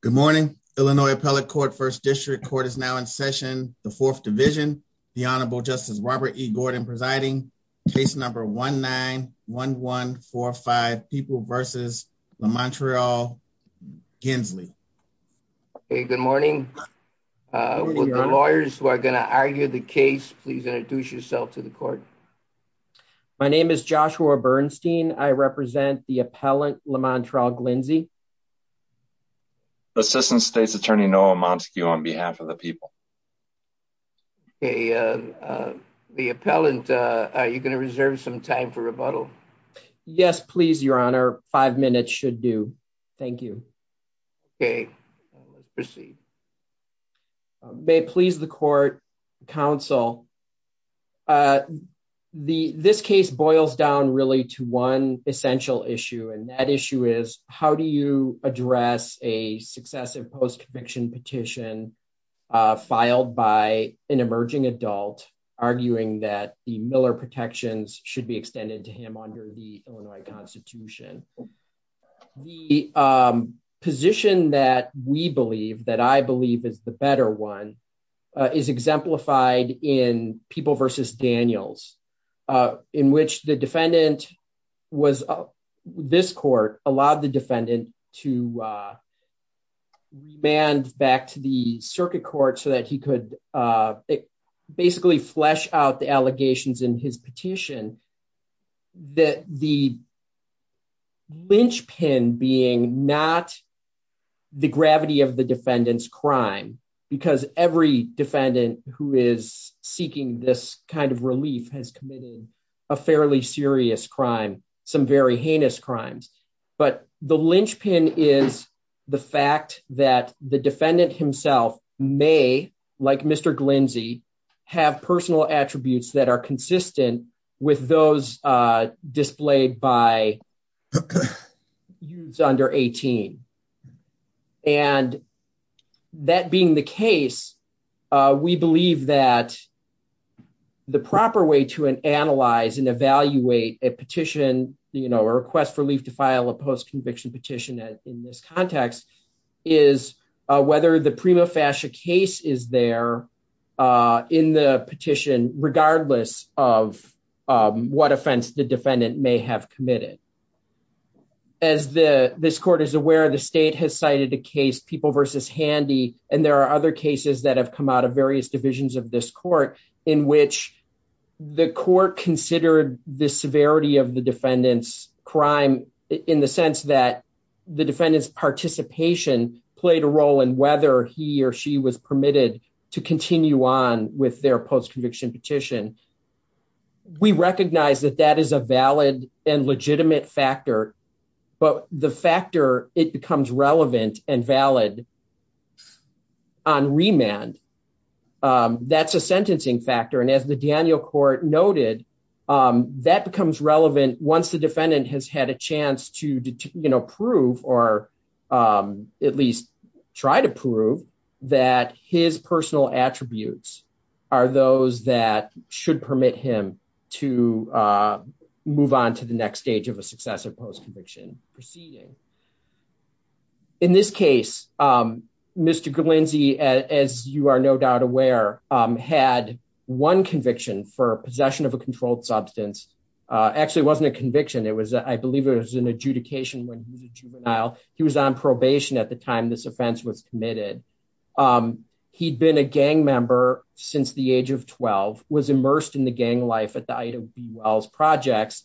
Good morning, Illinois Appellate Court, 1st District Court is now in session, the 4th Division. The Honorable Justice Robert E. Gordon presiding, case number 1-9-1-1-4-5, People v. LaMontreal Gensley. Good morning. Would the lawyers who are going to argue the case please introduce yourself to the court. My name is Joshua Bernstein. I represent the appellant, LaMontreal Glensley. Assistant State's Attorney Noah Montague on behalf of the people. The appellant, are you going to reserve some time for rebuttal? Yes, please, Your Honor. Five minutes should do. Thank you. Okay. Proceed. May it please the court, counsel. So, this case boils down really to one essential issue, and that issue is, how do you address a successive post-conviction petition filed by an emerging adult, arguing that the Miller protections should be extended to him under the Illinois Constitution? The position that we believe, that I believe is the better one, is exemplified in People v. Daniels, in which the defendant was, this court allowed the defendant to remand back to the circuit court so that he could basically flesh out the allegations in his petition that the linchpin being not the gravity of the defendant's crime, because every defendant who is seeking this kind of relief has committed a fairly serious crime, some very heinous crimes, but the linchpin is the fact that the defendant himself may, like Mr. Glensley, have personal attributes that are consistent with those displayed by youths under 18. And that being the case, we believe that the proper way to analyze and evaluate a petition, you know, a request for relief to file a post-conviction petition in this context, is whether the prima in the petition, regardless of what offense the defendant may have committed. As this court is aware, the state has cited a case, People v. Handy, and there are other cases that have come out of various divisions of this court, in which the court considered the severity of the defendant's crime in the sense that the defendant's participation played a role in whether he or she was permitted to continue on with their post-conviction petition. We recognize that that is a valid and legitimate factor, but the factor, it becomes relevant and valid on remand. That's a sentencing factor, and as the Daniel Court noted, that becomes relevant once the tried to prove that his personal attributes are those that should permit him to move on to the next stage of a successive post-conviction proceeding. In this case, Mr. Glensley, as you are no doubt aware, had one conviction for possession of a controlled substance. Actually, it wasn't a conviction, I believe it was an adjudication when he was a juvenile. He was on probation at the time this offense was committed. He'd been a gang member since the age of 12, was immersed in the gang life at the Ida B. Wells Projects,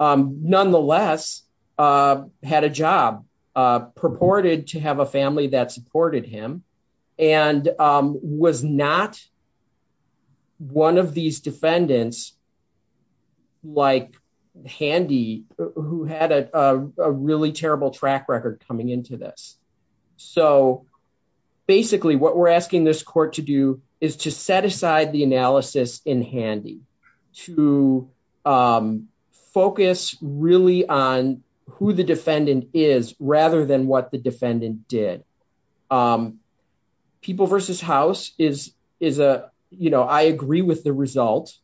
nonetheless had a job, purported to have a family that supported him, and was not one of these defendants like Handy, who had a really terrible track record coming into this. Basically, what we're asking this court to do is to set aside the analysis in Handy, to focus really on who the defendant is, rather than what the defendant did. I agree with the result,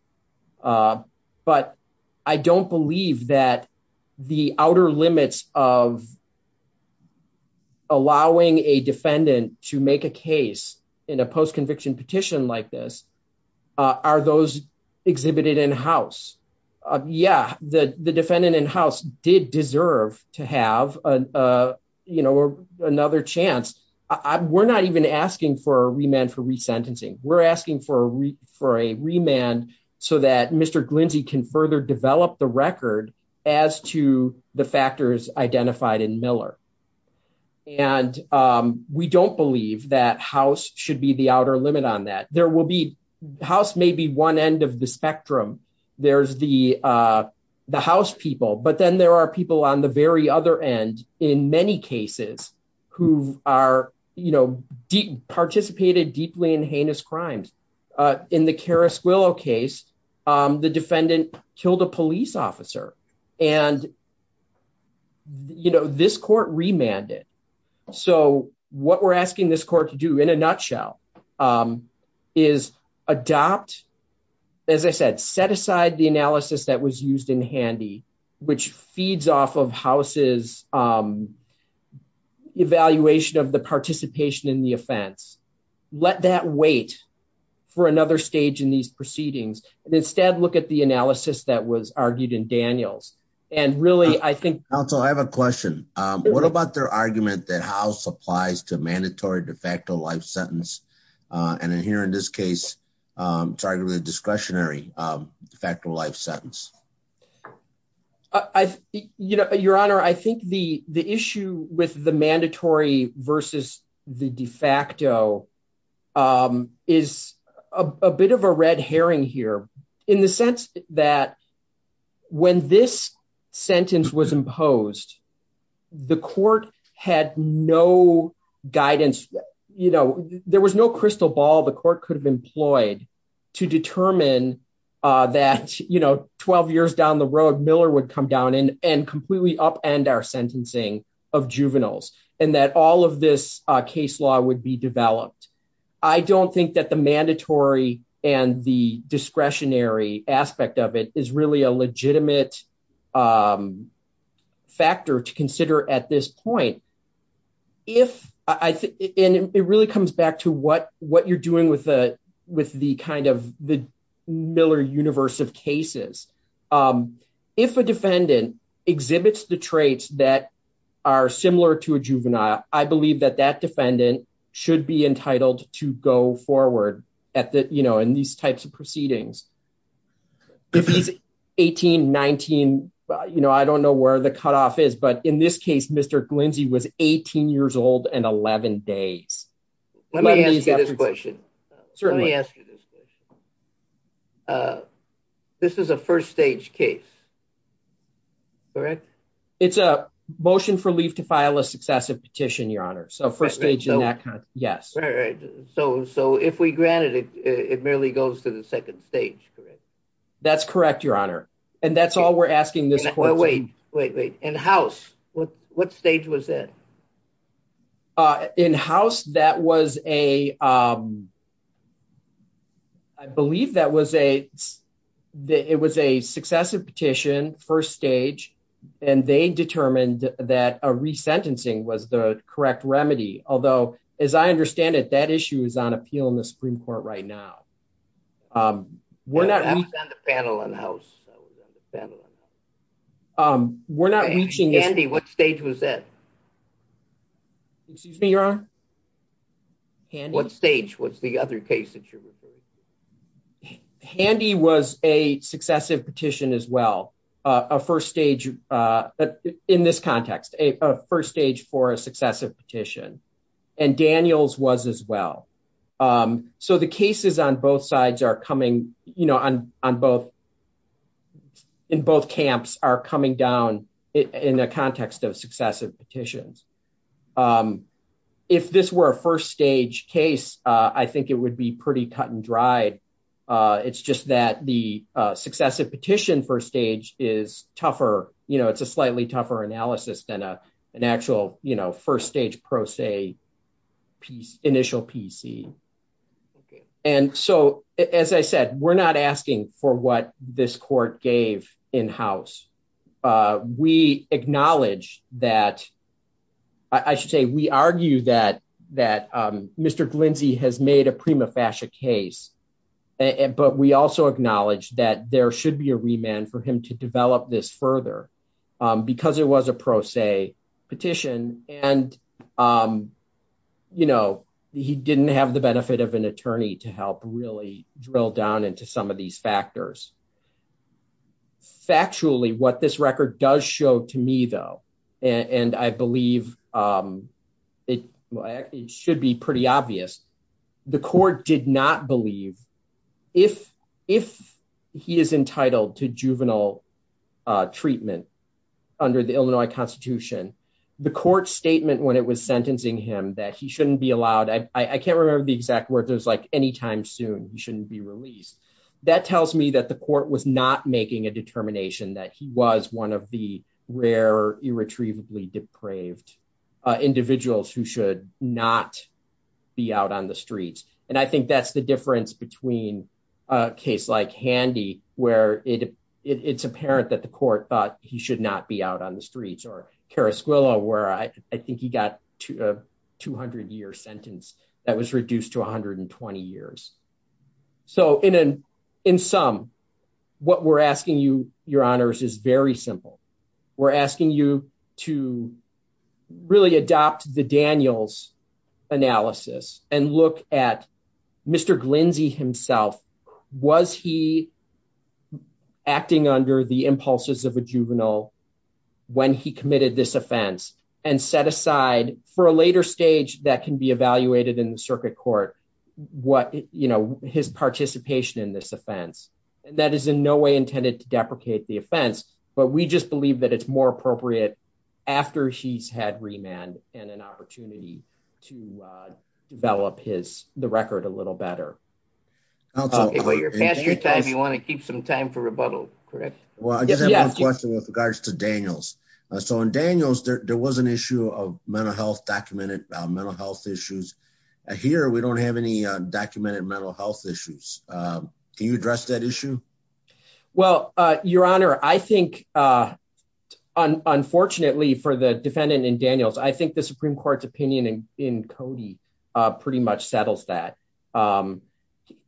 but I don't believe that the outer limits of allowing a defendant to make a case in a post-conviction petition like this are those exhibited in-house. Yeah, the defendant in-house did deserve to have another chance. We're not even asking for a remand for resentencing. We're asking for a remand so that Mr. Glensley can further develop the record as to the factors identified in Miller. We don't believe that house should be the outer limit on that. The house may be one end of the spectrum. There's the house people, but then there are people on the very other end, in many cases, who participated deeply in heinous crimes. In the Kara Squillow case, the defendant killed a police officer, and this court remanded. So, what we're asking this court to do, in a nutshell, is adopt, as I said, set aside the analysis that was used in Handy, which feeds off of house's evaluation of the participation in the offense. Let that wait for another stage in these proceedings, and instead, look at the analysis that was argued in Daniels. And really, I think- Counsel, I have a question. What about their argument that house applies to mandatory de facto life sentence, and in here, in this case, target with a discretionary de facto life sentence? Your Honor, I think the issue with the mandatory versus the de facto is a bit of a red herring here, in the sense that when this sentence was imposed, the court had no guidance. There was no crystal ball the court could have employed to determine that 12 years down the road, Miller would come down and completely upend our sentencing of juveniles, and that all of this case law would be developed. I don't think that the mandatory and the discretionary aspect of it is really a legitimate factor to consider at this point. And it really comes back to what you're doing with the Miller universe of cases. If a defendant exhibits the traits that are similar to a juvenile, I believe that that defendant should be entitled to go forward in these types of proceedings. If he's 18, 19, I don't know where the cutoff is, but in this case, Mr. Glinsey was 18 years old and 11 days. Let me ask you this question. This is a first stage case, correct? It's a motion for leave to file a successive petition, Your Honor. So first stage in that context, yes. So if we granted it, it merely goes to the second stage, correct? That's correct, Your Honor. And that's all we're asking this court. Wait, wait, wait. In house, what stage was that? In house, that was a, I believe that was a, it was a successive petition, first stage, and they determined that a re-sentencing was the correct remedy. Although, as I understand it, that issue is on appeal in the Supreme Court right now. We're not... That was on the panel in house. We're not reaching... Handy, what stage was that? Excuse me, Your Honor? What stage was the other case that you're referring to? Handy was a successive petition as well. A first stage, in this context, a first stage for a successive petition. And Daniel's was as well. So the cases on both sides are coming, you know, on both... In both camps are coming down in the context of successive petitions. If this were a first stage case, I think it would be pretty cut and dried. It's just that the successive petition first stage is tougher. You know, it's a slightly tougher analysis than an actual, you know, first stage pro se initial PC. And so, as I said, we're not asking for what this court gave in house. We acknowledge that... I should say, we argue that Mr. Glindsay has made a prima facie case but we also acknowledge that there should be a remand for him to develop this further because it was a pro se petition. And, you know, he didn't have the benefit of an attorney to help really drill down into some of these factors. Factually, what this record does show to me though, and I believe it should be pretty obvious. The court did not believe if he is entitled to juvenile treatment under the Illinois Constitution, the court statement when it was sentencing him that he shouldn't be allowed... I can't remember the exact word. There's like any time soon he shouldn't be released. That tells me that the court was not making a determination that he was one of the rare, irretrievably depraved individuals who should not be out on the streets. And I think that's the difference between a case like Handy, where it's apparent that the court thought he should not be out on the streets or Carasquillo where I think he got a 200 year sentence that was reduced to 120 years. So, in sum, what we're asking you, your honors, is very simple. We're asking you to really adopt the Daniels analysis and look at Mr. Glinzy himself. Was he acting under the impulses of a juvenile when he committed this offense and set aside for a later stage that can be evaluated in the circuit court, his participation in this offense. And that is in no way intended to deprecate the offense, but we just believe that it's more appropriate after he's had remand and an opportunity to develop his the record a little better. Okay, well, you're past your time. You want to keep some time for rebuttal, correct? Well, I just have one question with regards to Daniels. So, in Daniels, there was an issue of mental health, documented mental health issues. Here, we don't have any documented mental health issues. Can you address that issue? Well, your honor, I think, unfortunately for the defendant in Daniels, I think the Supreme Court's opinion in Cody pretty much settles that.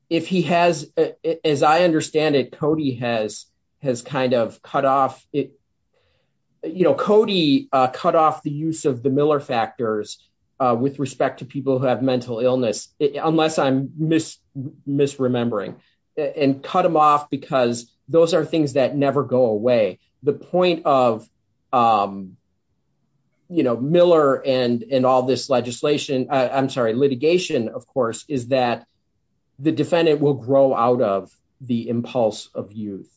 If he has, as I understand it, Cody has kind of cut off, you know, Cody cut off the use of the Miller factors with respect to people who have mental illness, unless I'm misremembering, and cut them off because those are things that never go away. The point of, you know, Miller and all this legislation, I'm sorry, litigation, of course, is that the defendant will grow out of the impulse of youth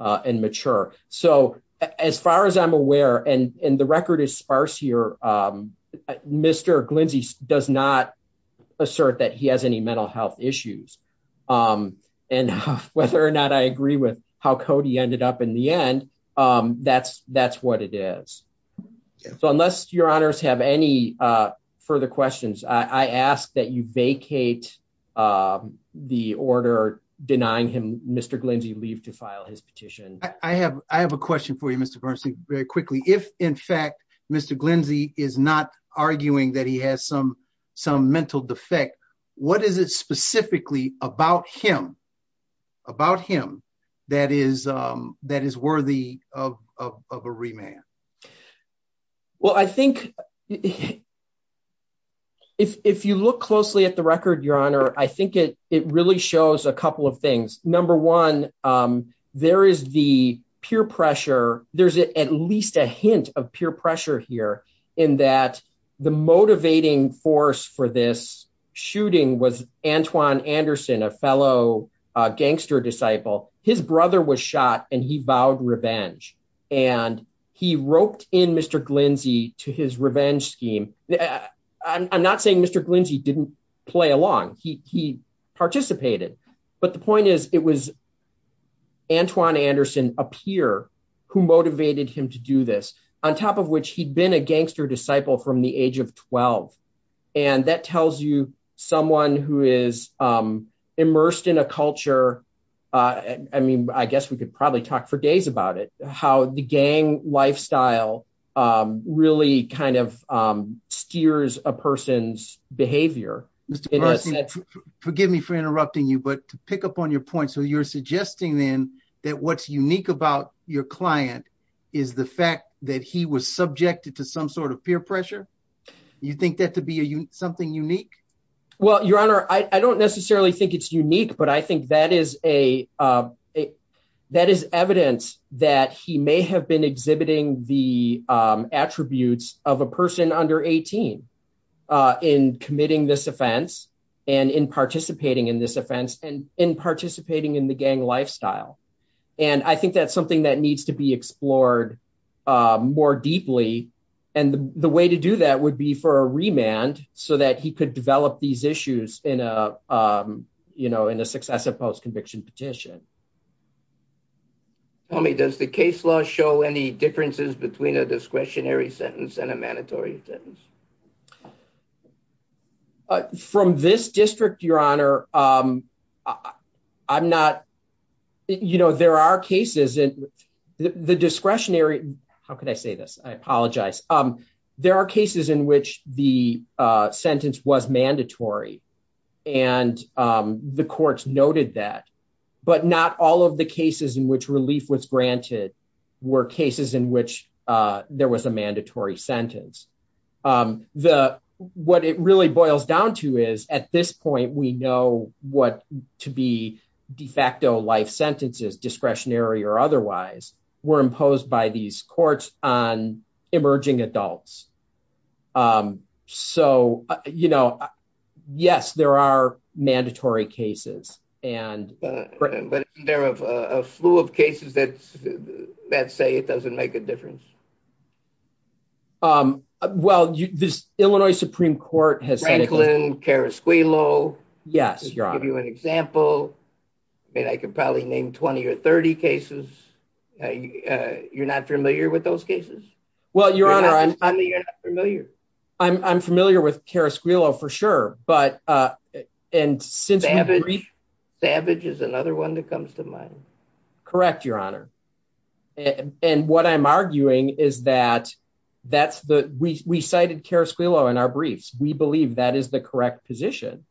and mature. So, as far as I'm aware, and the record is sparse here, Mr. Glenzie does not assert that he has any mental health issues. And whether or not I agree with how Cody ended up in the end, that's what it is. So, unless your honors have any further questions, I ask that you vacate the order denying him Mr. Glenzie leave to file his petition. I have a question for you, Mr. Bernstein, very quickly. If, in fact, Mr. Glenzie is not arguing that he has some mental defect, what is it specifically about him that is worthy of a remand? Well, I think if you look closely at the record, your honor, I think it really shows a couple of things. Number one, there is the peer pressure. There's at least a hint of peer pressure here in that the motivating force for this shooting was Antoine Anderson, a fellow gangster disciple. His brother was shot and he vowed revenge. And he roped in Mr. Glenzie to his revenge scheme. I'm not saying Mr. Glenzie didn't play along. He participated. But the point is, it was Antoine Anderson, a peer, who motivated him to do this, on top of which he'd been a gangster disciple from the age of 12. And that tells you someone who is immersed in a culture, I mean, I guess we could probably talk for days about it, how the gang lifestyle really kind of steers a person's behavior. Mr. Parson, forgive me for interrupting you, but to pick up on your point. So you're suggesting then that what's unique about your client is the fact that he was subjected to some sort of peer pressure? You think that to be something unique? Well, your honor, I don't necessarily think it's unique, but I think that is evidence that he may have been exhibiting the attributes of a person under 18 in committing this offense and in participating in this offense and in participating in the gang lifestyle. And I think that's something that needs to be explored more deeply. And the way to do that would be for a remand so that he could develop these issues in a successive post-conviction petition. Tommy, does the case law show any differences between a discretionary sentence and a mandatory sentence? Well, from this district, your honor, I'm not, you know, there are cases, the discretionary, how can I say this? I apologize. There are cases in which the sentence was mandatory and the courts noted that, but not all of the cases in which relief was granted were cases in which there was a mandatory sentence. Um, the, what it really boils down to is at this point, we know what to be de facto life sentences, discretionary or otherwise, were imposed by these courts on emerging adults. Um, so, you know, yes, there are mandatory cases and- But isn't there a flu of cases that say it doesn't make a difference? Um, well, this Illinois Supreme Court has- Franklin, Carasquillo. Yes, your honor. To give you an example, I mean, I could probably name 20 or 30 cases. You're not familiar with those cases? Well, your honor, I'm- You're not familiar. I'm familiar with Carasquillo for sure, but, uh, and since- Savage. Savage is another one that comes to mind. Correct, your honor. And what I'm arguing is that that's the- We cited Carasquillo in our briefs. We believe that is the correct position.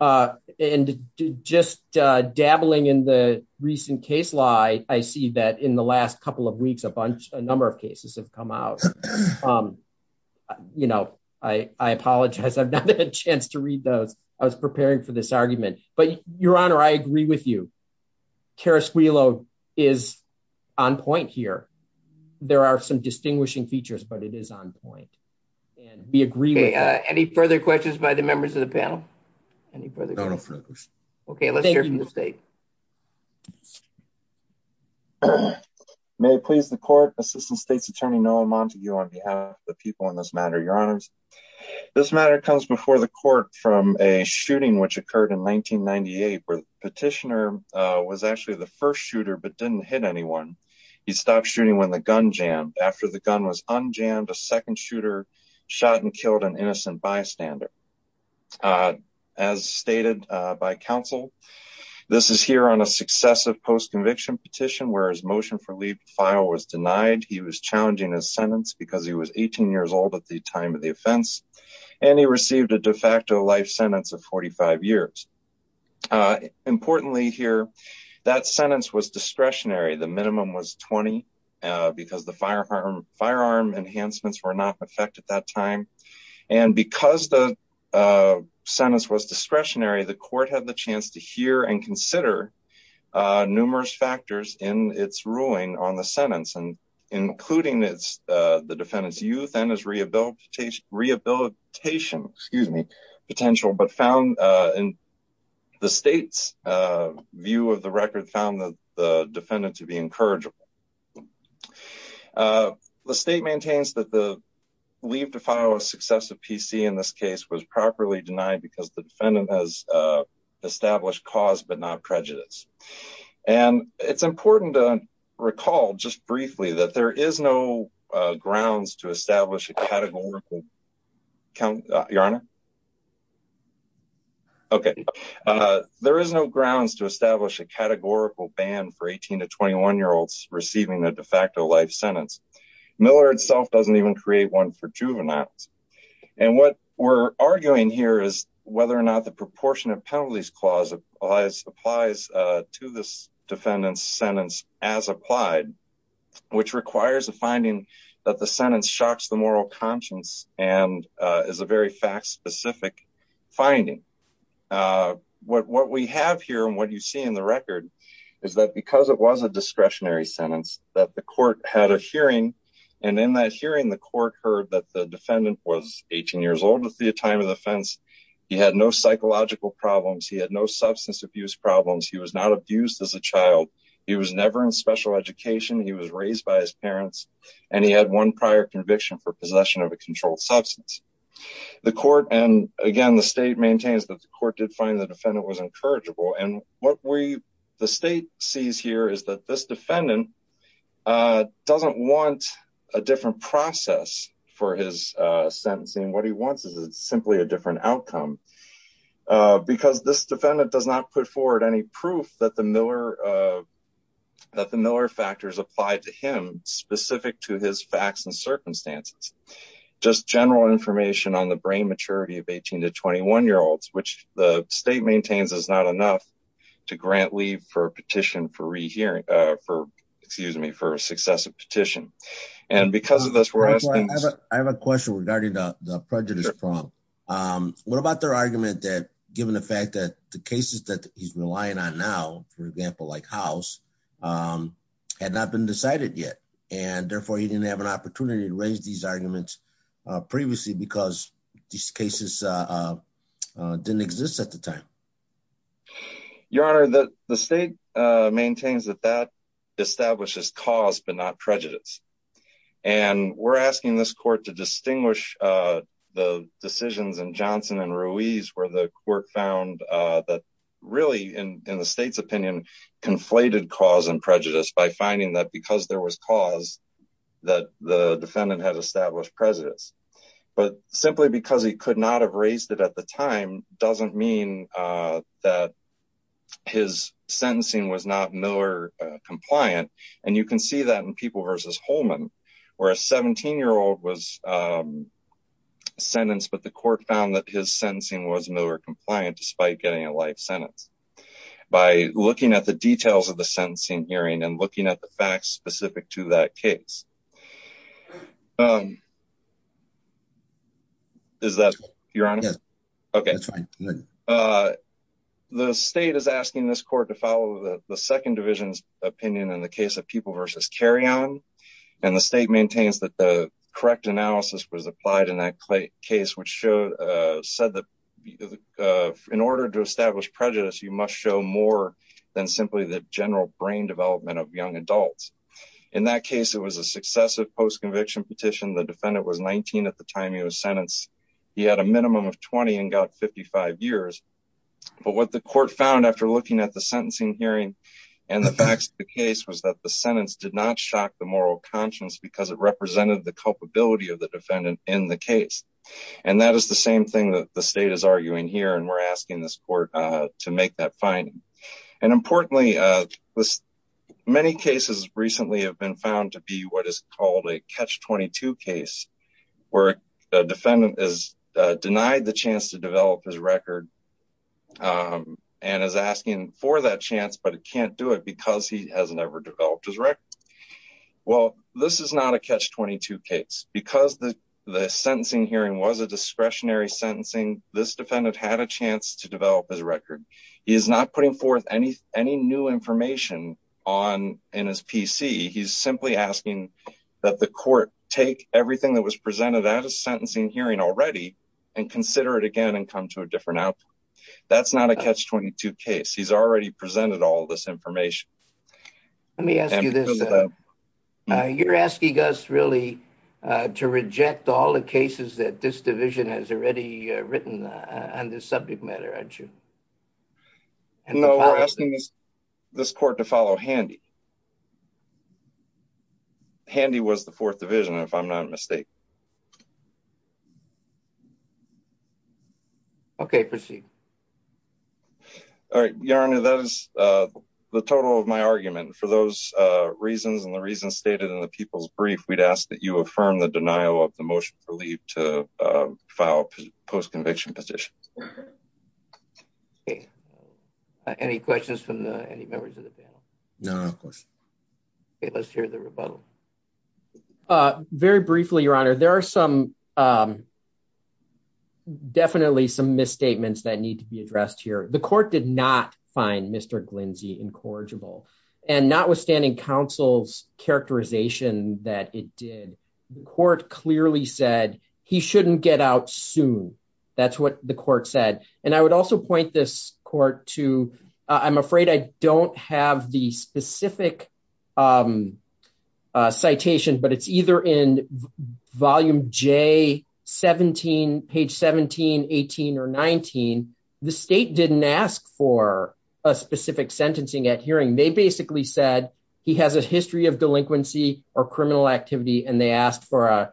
Uh, and just, uh, dabbling in the recent case law, I see that in the last couple of weeks, a bunch, a number of cases have come out. Um, you know, I apologize. I've not had a chance to read those. I was preparing for this argument. But your honor, I agree with you. Carasquillo is on point here. There are some distinguishing features, but it is on point. And we agree with that. Any further questions by the members of the panel? Any further questions? No, no further questions. Okay, let's hear from the state. May it please the court, Assistant State's Attorney Noah Montague, on behalf of the people in this matter. Your honors, this matter comes before the court from a shooting which occurred in 1998 where the petitioner was actually the first shooter, but didn't hit anyone. He stopped shooting when the gun jammed. After the gun was unjammed, a second shooter shot and killed an innocent bystander. As stated by counsel, this is here on a successive post-conviction petition where his motion for leave to file was denied. He was challenging his sentence because he was 18 years old at the time of the offense. And he received a de facto life sentence of 45 years. Importantly here, that sentence was discretionary. The minimum was 20 because the firearm enhancements were not in effect at that time. And because the sentence was discretionary, the court had the chance to hear and consider numerous factors in its ruling on the sentence, including the defendant's youth and his rehabilitation potential. But the state's view of the record found the defendant to be incorrigible. The state maintains that the leave to file a successive PC in this case was properly denied because the defendant has established cause but not prejudice. And it's important to recall just briefly that there is no grounds to establish a categorical count your honor. Okay, there is no grounds to establish a categorical ban for 18 to 21 year olds receiving a de facto life sentence. Miller itself doesn't even create one for juveniles. And what we're arguing here is whether or not the proportion of penalties clause applies applies to this defendant's sentence as applied, which requires a finding that the is a very fact specific finding. What we have here and what you see in the record is that because it was a discretionary sentence that the court had a hearing. And in that hearing, the court heard that the defendant was 18 years old at the time of the offense. He had no psychological problems. He had no substance abuse problems. He was not abused as a child. He was never in special education. He was raised by his parents and he had one prior conviction for possession of a controlled substance. The court and again, the state maintains that the court did find the defendant was incorrigible. And what we the state sees here is that this defendant doesn't want a different process for his sentencing. What he wants is simply a different outcome because this defendant does not put forward any proof that the Miller that the Miller factors applied to him specific to his facts and circumstances. Just general information on the brain maturity of 18 to 21 year olds, which the state maintains is not enough to grant leave for petition for rehearing for excuse me, for successive petition. And because of this, we're asking, I have a question regarding the prejudice problem. What about their argument that given the fact that the cases that he's relying on now, for example, like house had not been decided yet and therefore he didn't have an opportunity to raise these arguments previously because these cases didn't exist at the time. Your Honor, the state maintains that that establishes cause, but not prejudice. And we're asking this court to distinguish the decisions and Johnson and Ruiz, where the court found that really in the state's opinion, conflated cause and prejudice by finding that because there was cause that the defendant has established prejudice, but simply because he could not have raised it at the time doesn't mean that his sentencing was not Miller compliant. And you can see that in people versus Holman, where a 17 year old was sentenced, but the court found that his sentencing was Miller compliant despite getting a life sentence by looking at the details of the sentencing hearing and looking at the facts specific to that case. Is that your honor? Yeah, okay. The state is asking this court to follow the second division's opinion in the case of people versus carry on. And the state maintains that the correct analysis was applied in that case, which showed said that in order to establish prejudice, you must show more than simply the general brain development of young adults. In that case, it was a successive post-conviction petition. The defendant was 19 at the time he was sentenced. He had a minimum of 20 and got 55 years. But what the court found after looking at the sentencing hearing and the facts of the case was that the sentence did not shock the moral conscience because it represented the culpability of the defendant in the case. And that is the same thing that the state is arguing here. And we're asking this court to make that finding. And importantly, many cases recently have been found to be what is called a catch-22 case where the defendant is denied the chance to develop his record and is asking for that chance, but it can't do it because he has never developed his record. Well, this is not a catch-22 case. Because the sentencing hearing was a discretionary sentencing, this defendant had a chance to develop his record. He is not putting forth any new information in his PC. He's simply asking that the court take everything that was presented at a sentencing hearing already and consider it again and come to a different outcome. That's not a catch-22 case. He's already presented all this information. Let me ask you this. You're asking us really to reject all the cases that this division has already written on this subject matter, aren't you? No, we're asking this court to follow Handy. Handy was the fourth division, if I'm not mistaken. Okay, proceed. All right, Your Honor, that is the total of my argument. For those reasons and the reasons stated in the people's brief, we'd ask that you affirm the denial of the motion for leave to file a post-conviction petition. Any questions from any members of the panel? No, of course not. Okay, let's hear the rebuttal. Very briefly, Your Honor, there are definitely some misstatements that need to be addressed here. The court did not find Mr. Glinsey incorrigible, and notwithstanding counsel's characterization that it did, the court clearly said he shouldn't get out soon. That's what the court said. I would also point this court to, I'm afraid I don't have the specific citation, but it's either in volume J17, page 17, 18, or 19, the state didn't ask for a specific sentencing at hearing. They basically said he has a history of delinquency or criminal activity, and they asked for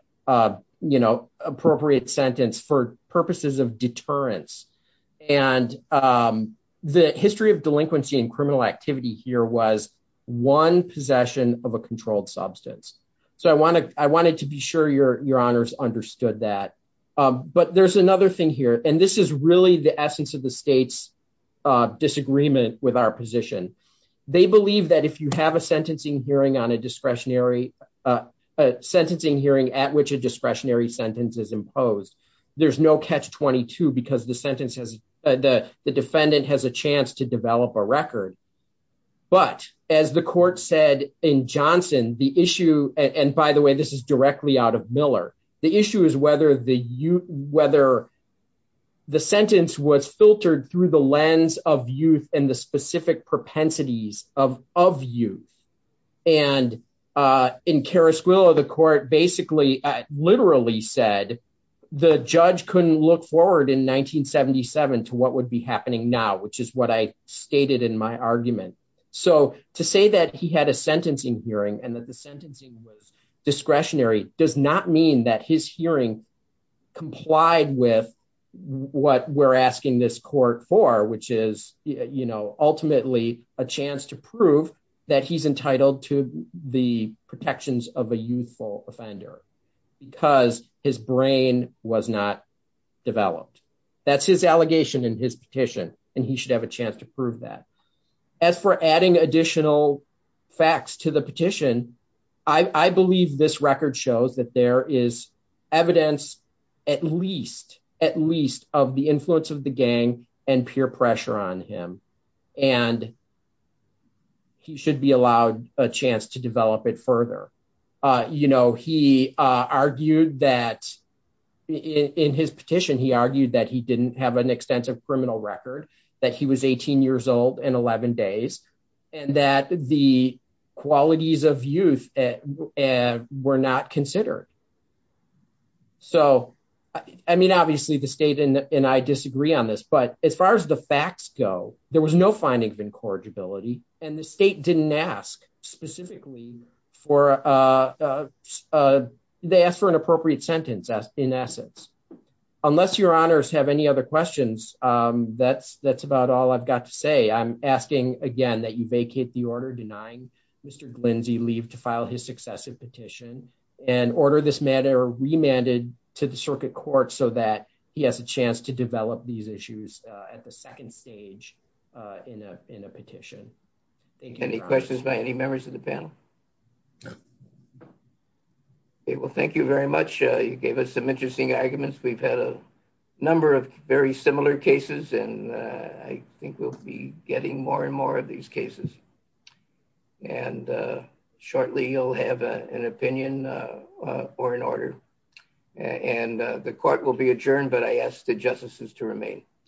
appropriate sentence for purposes of deterrence. And the history of delinquency and criminal activity here was one possession of a controlled substance. So I wanted to be sure Your Honors understood that. But there's another thing here, and this is really the essence of the state's disagreement with our position. They believe that if you have a sentencing hearing at which a discretionary sentence is imposed, there's no catch-22 because the defendant has a chance to develop a record. But as the court said in Johnson, the issue, and by the way, this is directly out of Miller, the issue is whether the sentence was filtered through the lens of youth and the specific propensities of youth. And in Carasquillo, the court basically literally said the judge couldn't look forward in 1977 to what would be happening now, which is what I stated in my argument. So to say that he had a sentencing hearing and that the sentencing was discretionary does not mean that his hearing complied with what we're asking this court for, which is ultimately a chance to prove that he's entitled to the protections of a youthful offender because his brain was not developed. That's his allegation in his petition, and he should have a chance to prove that. As for adding additional facts to the petition, I believe this record shows that there is at least of the influence of the gang and peer pressure on him, and he should be allowed a chance to develop it further. He argued that in his petition, he argued that he didn't have an extensive criminal record, that he was 18 years old and 11 days, and that the qualities of youth were not considered. So, I mean, obviously the state and I disagree on this, but as far as the facts go, there was no finding of incorrigibility, and the state didn't ask specifically for, they asked for an appropriate sentence in essence. Unless your honors have any other questions, that's about all I've got to say. I'm asking again that you vacate the order denying Mr. Glinsey leave to file his successive petition and order this matter remanded to the circuit court so that he has a chance to develop these issues at the second stage in a petition. Thank you. Any questions by any members of the panel? Okay, well, thank you very much. You gave us some interesting arguments. We've had a number of very similar cases, and I think we'll be getting more and more of these cases. And shortly, you'll have an opinion or an order, and the court will be adjourned, but I ask the justices to remain.